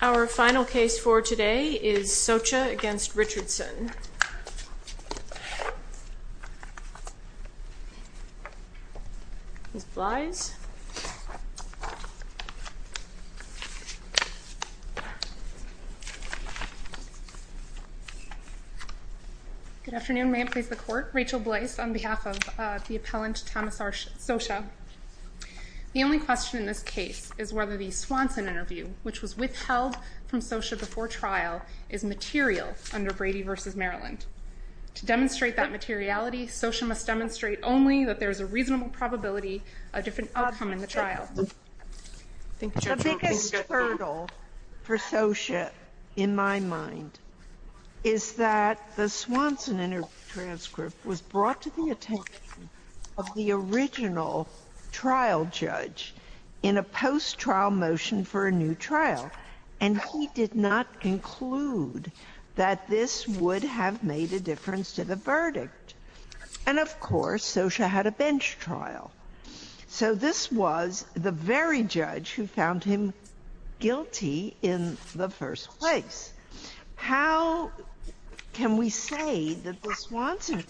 Our final case for today is Socha v. Richardson. Ms. Blyse. Good afternoon. May I please the court? Rachel Blyse on behalf of the appellant Thomas Socha. The only question in this case is whether the Swanson interview, which was withheld from Socha before trial, is material under Brady v. Maryland. To demonstrate that materiality, Socha must demonstrate only that there is a reasonable probability a different outcome in the trial. The biggest hurdle for Socha, in my mind, is that the Swanson interview transcript was brought to the attention of the original trial judge in a post-trial motion for a new trial. And he did not conclude that this would have made a difference to the verdict. And, of course, Socha had a bench trial. So this was the very judge who found him guilty in the first place. How can we say that the Swanson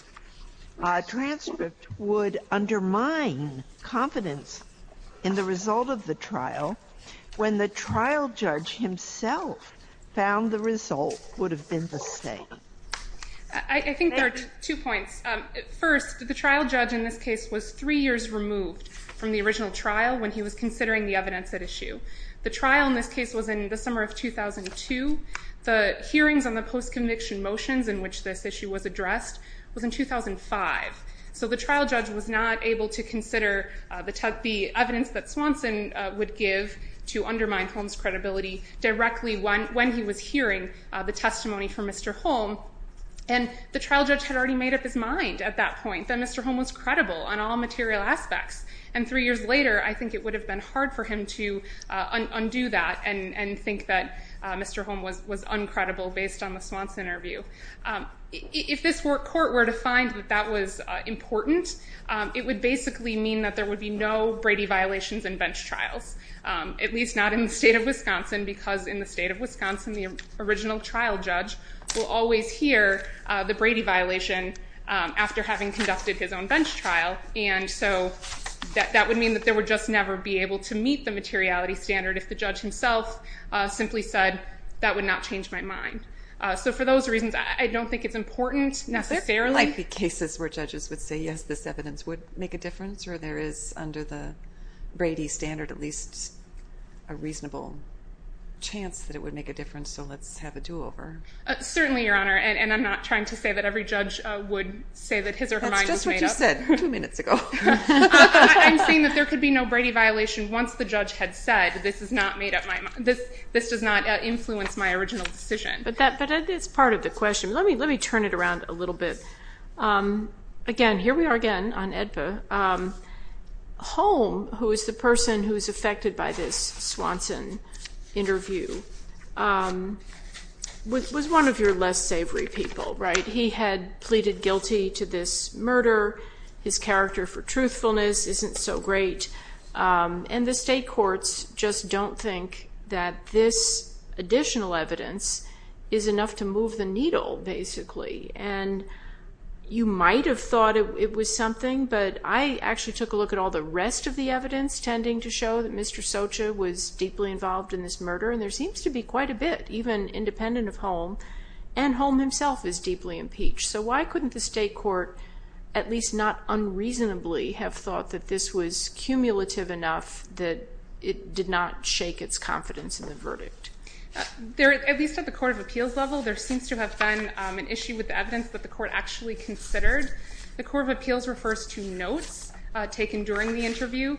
transcript would undermine confidence in the result of the trial when the trial judge himself found the result would have been the same? I think there are two points. First, the trial judge in this case was three years removed from the original trial when he was considering the evidence at issue. The trial in this case was in the summer of 2002. The hearings on the post-conviction motions in which this issue was addressed was in 2005. So the trial judge was not able to consider the evidence that Swanson would give to undermine Holm's credibility directly when he was hearing the testimony from Mr. Holm. And the trial judge had already made up his mind at that point that Mr. Holm was credible on all material aspects. And three years later, I think it would have been hard for him to undo that and think that Mr. Holm was uncredible based on the Swanson interview. If this court were to find that that was important, it would basically mean that there would be no Brady violations in bench trials. At least not in the state of Wisconsin, because in the state of Wisconsin, the original trial judge will always hear the Brady violation after having conducted his own bench trial. And so that would mean that they would just never be able to meet the materiality standard if the judge himself simply said, that would not change my mind. So for those reasons, I don't think it's important necessarily. There might be cases where judges would say, yes, this evidence would make a difference, or there is, under the Brady standard, at least a reasonable chance that it would make a difference. So let's have a do-over. Certainly, Your Honor. And I'm not trying to say that every judge would say that his or her mind was made up. That's just what you said two minutes ago. I'm saying that there could be no Brady violation once the judge had said, this does not influence my original decision. But that's part of the question. Let me turn it around a little bit. Again, here we are again on AEDPA. Holm, who is the person who is affected by this Swanson interview, was one of your less savory people, right? He had pleaded guilty to this murder. His character for truthfulness isn't so great. And the state courts just don't think that this additional evidence is enough to move the needle, basically. And you might have thought it was something, but I actually took a look at all the rest of the evidence tending to show that Mr. Socha was deeply involved in this murder. And there seems to be quite a bit, even independent of Holm. And Holm himself is deeply impeached. So why couldn't the state court, at least not unreasonably, have thought that this was cumulative enough that it did not shake its confidence in the verdict? At least at the court of appeals level, there seems to have been an issue with the evidence that the court actually considered. The court of appeals refers to notes taken during the interview.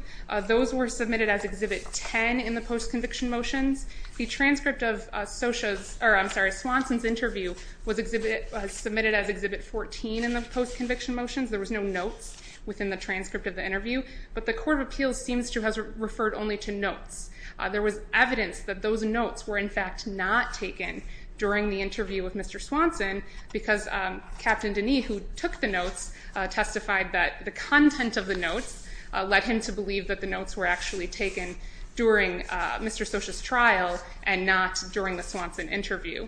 Those were submitted as Exhibit 10 in the post-conviction motions. The transcript of Socha's, or I'm sorry, Swanson's interview was submitted as Exhibit 14 in the post-conviction motions. There was no notes within the transcript of the interview. But the court of appeals seems to have referred only to notes. There was evidence that those notes were, in fact, not taken during the interview with Mr. Swanson, because Captain Deney, who took the notes, testified that the content of the notes led him to believe that the notes were actually taken during Mr. Socha's trial and not during the Swanson interview.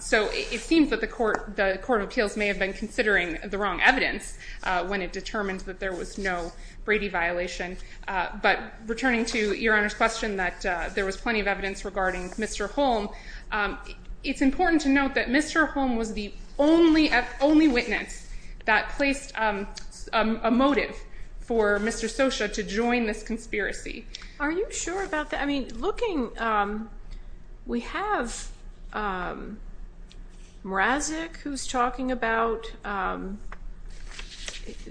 So it seems that the court of appeals may have been considering the wrong evidence when it determined that there was no Brady violation. But returning to Your Honor's question that there was plenty of evidence regarding Mr. Holm, it's important to note that Mr. Holm was the only witness that placed a motive for Mr. Socha to join this conspiracy. Are you sure about that? I mean, looking, we have Mrazik who's talking about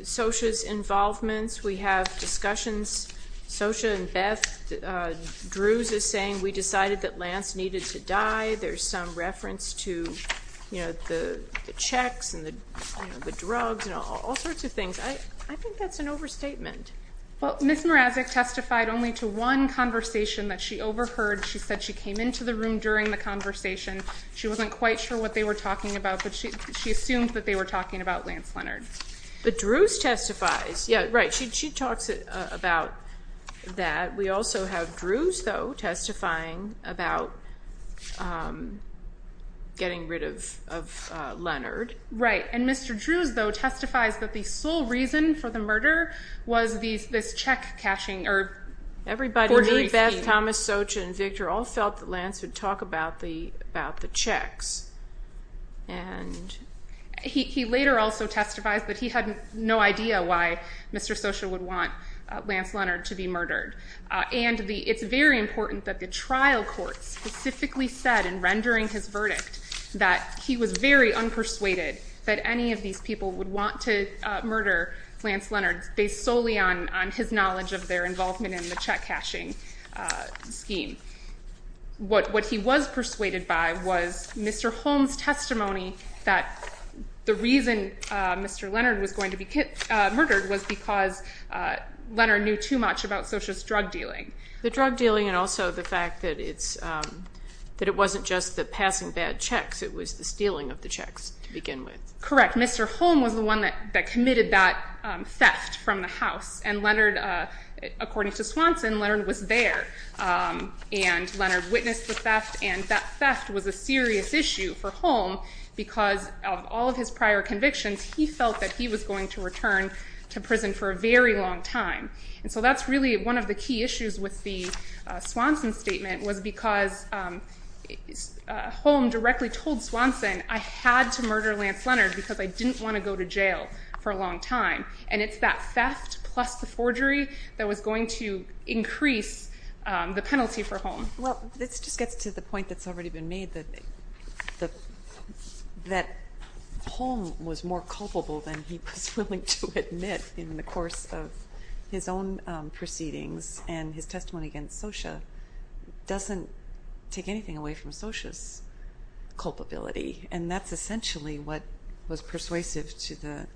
Socha's involvements. We have discussions. Socha and Beth, Drews is saying we decided that Lance needed to die. There's some reference to the checks and the drugs and all sorts of things. I think that's an overstatement. Well, Ms. Mrazik testified only to one conversation that she overheard. She said she came into the room during the conversation. She wasn't quite sure what they were talking about, but she assumed that they were talking about Lance Leonard. But Drews testifies. Yeah, right. She talks about that. We also have Drews, though, testifying about getting rid of Leonard. And Mr. Drews, though, testifies that the sole reason for the murder was this check cashing or forgery scheme. Everybody knew Beth, Thomas, Socha, and Victor all felt that Lance would talk about the checks. And he later also testifies that he had no idea why Mr. Socha would want Lance Leonard to be murdered. And it's very important that the trial court specifically said in rendering his verdict that he was very unpersuaded that any of these people would want to murder Lance Leonard based solely on his knowledge of their involvement in the check cashing scheme. What he was persuaded by was Mr. Holm's testimony that the reason Mr. Leonard was going to be murdered was because Leonard knew too much about Socha's drug dealing. The drug dealing and also the fact that it wasn't just the passing bad checks. It was the stealing of the checks to begin with. Correct. Mr. Holm was the one that committed that theft from the house. And Leonard, according to Swanson, Leonard was there. And Leonard witnessed the theft and that theft was a serious issue for Holm because of all of his prior convictions he felt that he was going to return to prison for a very long time. And so that's really one of the key issues with the Swanson statement was because Holm directly told Swanson I had to murder Lance Leonard because I didn't want to go to jail for a long time. And it's that theft plus the forgery that was going to increase the penalty for Holm. Well, this just gets to the point that's already been made that Holm was more culpable than he was willing to admit in the course of his own proceedings and his testimony against Socha doesn't take anything away from Socha's culpability. And that's essentially what was persuasive to the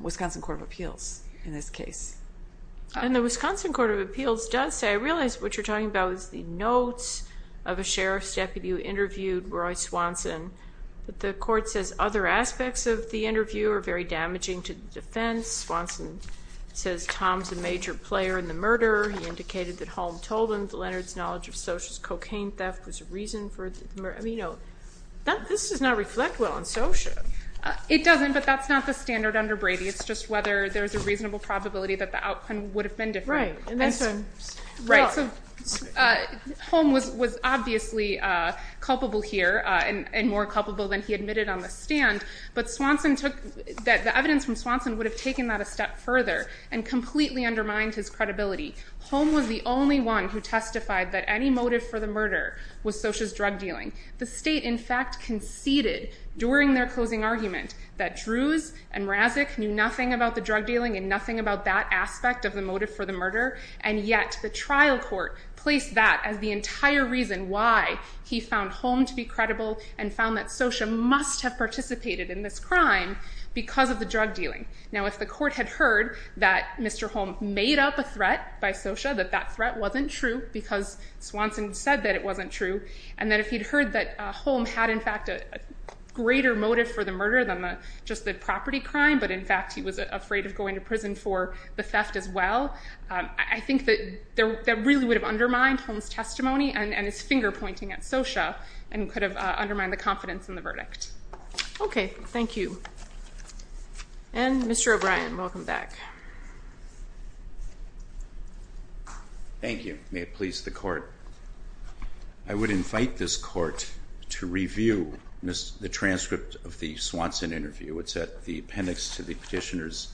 Wisconsin Court of Appeals in this case. And the Wisconsin Court of Appeals does say, I realize what you're talking about is the notes of a sheriff's deputy who interviewed Roy Swanson. But the court says other aspects of the interview are very damaging to the defense. Swanson says Tom's a major player in the murder. He indicated that Holm told him that Leonard's knowledge of Socha's cocaine theft was a reason for the murder. I mean, this does not reflect well on Socha. It doesn't, but that's not the standard under Brady. It's just whether there's a reasonable probability that the outcome would have been different. Right. Holm was obviously culpable here and more culpable than he admitted on the stand. But the evidence from Swanson would have taken that a step further and completely undermined his credibility. Holm was the only one who testified that any motive for the murder was Socha's drug dealing. The state, in fact, conceded during their closing argument that Drews and Razek knew nothing about the drug dealing and nothing about that aspect of the motive for the murder. And yet the trial court placed that as the entire reason why he found Holm to be credible and found that Socha must have participated in this crime because of the drug dealing. Now, if the court had heard that Mr. Holm made up a threat by Socha, that that threat wasn't true because Swanson said that it wasn't true, and that if he'd heard that Holm had, in fact, a greater motive for the murder than just the property crime, but in fact he was afraid of going to prison for the theft as well, I think that that really would have undermined Holm's testimony and his finger pointing at Socha and could have undermined the confidence in the verdict. Okay. Thank you. And, Mr. O'Brien, welcome back. Thank you. May it please the court. I would invite this court to review the transcript of the Swanson interview. It's in the petitioner's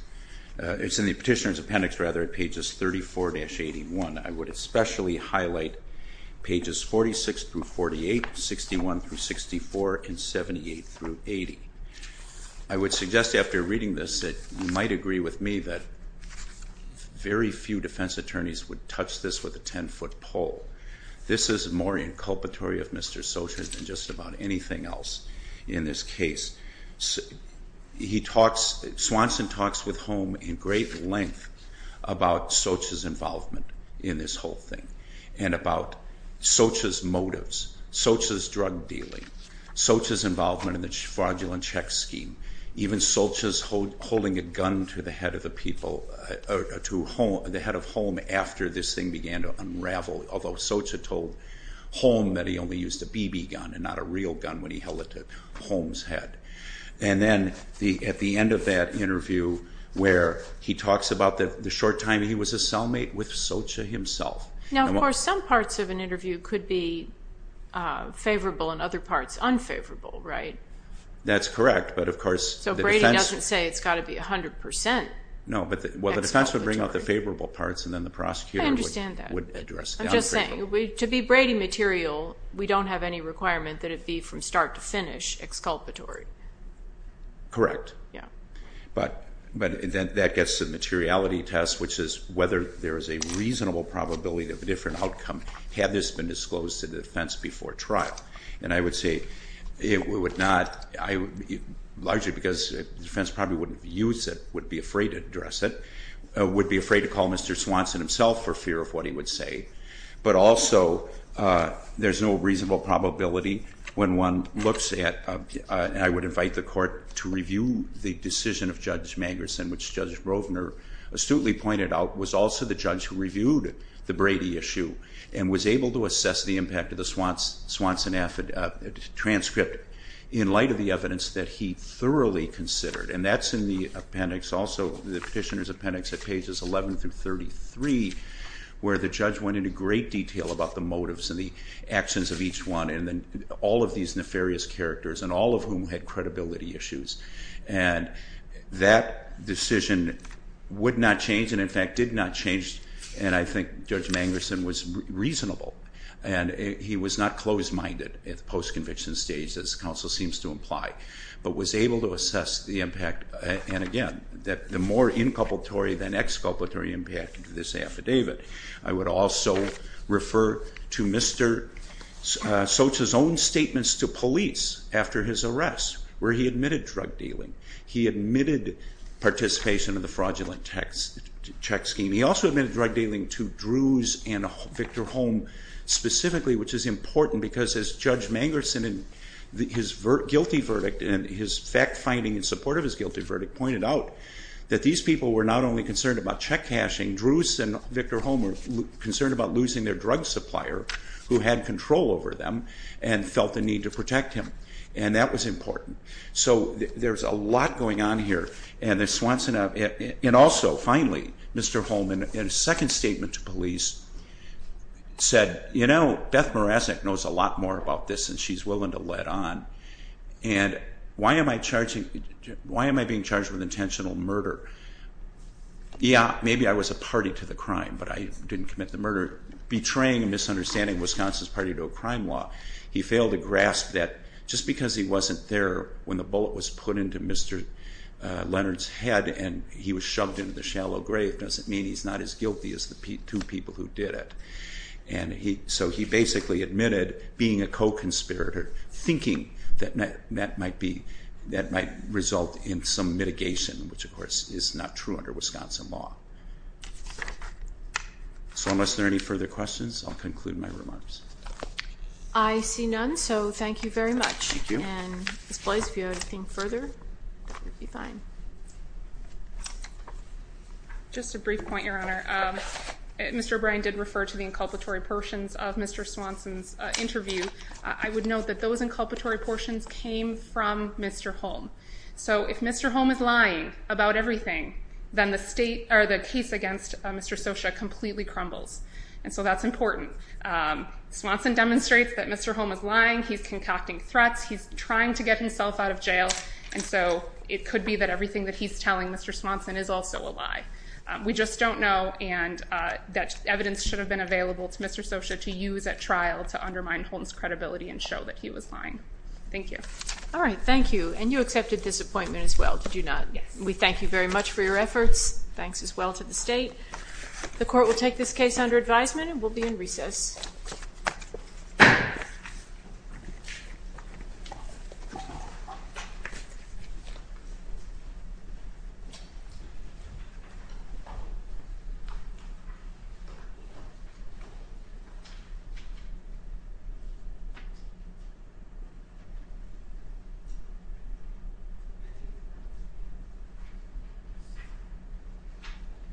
appendix at pages 34-81. I would especially highlight pages 46-48, 61-64, and 78-80. I would suggest after reading this that you might agree with me that very few defense attorneys would touch this with a ten-foot pole. This is more inculpatory of Mr. Socha than just about anything else in this case. Swanson talks with Holm in great length about Socha's involvement in this whole thing and about Socha's motives, Socha's drug dealing, Socha's involvement in the fraudulent check scheme, even Socha's holding a gun to the head of Holm after this thing began to unravel, although Socha told Holm that he only used a BB gun and not a real gun when he held it to Holm's head. And then at the end of that interview where he talks about the short time he was a cellmate with Socha himself. Now, of course, some parts of an interview could be favorable and other parts unfavorable, right? That's correct, but of course the defense... So Brady doesn't say it's got to be 100 percent. No, but the defense would bring out the favorable parts and then the prosecutor would address that. I'm just saying, to be Brady material, we don't have any requirement that it be from start to finish exculpatory. Correct. Yeah. But that gets the materiality test, which is whether there is a reasonable probability of a different outcome had this been disclosed to the defense before trial. And I would say it would not... Largely because the defense probably wouldn't use it, would be afraid to address it, would be afraid to call Mr. Swanson himself for fear of what he would say. But also, there's no reasonable probability when one looks at... I would invite the court to review the decision of Judge Mangerson, which Judge Rovner astutely pointed out was also the judge who reviewed the Brady issue and was able to assess the impact of the Swanson transcript in light of the evidence that he thoroughly considered. And that's in the appendix also, the petitioner's appendix at pages 11 through 33, where the judge went into great detail about the motives and the actions of each one and all of these nefarious characters and all of whom had credibility issues. And that decision would not change and, in fact, did not change. And I think Judge Mangerson was reasonable. And he was not closed-minded at the post-conviction stage, as counsel seems to imply, but was able to assess the impact. And, again, the more inculpatory than exculpatory impact of this affidavit. I would also refer to Mr. Soch's own statements to police after his arrest, where he admitted drug dealing. He admitted participation in the fraudulent check scheme. He also admitted drug dealing to Drews and Victor Holm specifically, which is important, because as Judge Mangerson in his guilty verdict and his fact-finding in support of his guilty verdict pointed out that these people were not only concerned about check-cashing, Drews and Victor Holm were concerned about losing their drug supplier who had control over them and felt the need to protect him. And that was important. So there's a lot going on here. And also, finally, Mr. Holm, in a second statement to police, said, you know, Beth Morazek knows a lot more about this than she's willing to let on. And why am I being charged with intentional murder? Yeah, maybe I was a party to the crime, but I didn't commit the murder. Betraying and misunderstanding Wisconsin's party to a crime law. He failed to grasp that just because he wasn't there when the bullet was put into Mr. Leonard's head and he was shoved into the shallow grave doesn't mean he's not as guilty as the two people who did it. And so he basically admitted being a co-conspirator, thinking that that might result in some mitigation, which, of course, is not true under Wisconsin law. So unless there are any further questions, I'll conclude my remarks. I see none, so thank you very much. Thank you. And Ms. Blais, if you have anything further, that would be fine. Just a brief point, Your Honor. Mr. O'Brien did refer to the inculpatory portions of Mr. Swanson's interview. I would note that those inculpatory portions came from Mr. Holm. So if Mr. Holm is lying about everything, then the case against Mr. Socha completely crumbles. And so that's important. Swanson demonstrates that Mr. Holm is lying. He's concocting threats. He's trying to get himself out of jail. And so it could be that everything that he's telling Mr. Swanson is also a lie. We just don't know, and that evidence should have been available to Mr. Socha to use at trial to undermine Holm's credibility and show that he was lying. Thank you. All right, thank you. And you accepted this appointment as well, did you not? Yes. We thank you very much for your efforts. Thanks as well to the State. The Court will take this case under advisement and will be in recess. Thank you.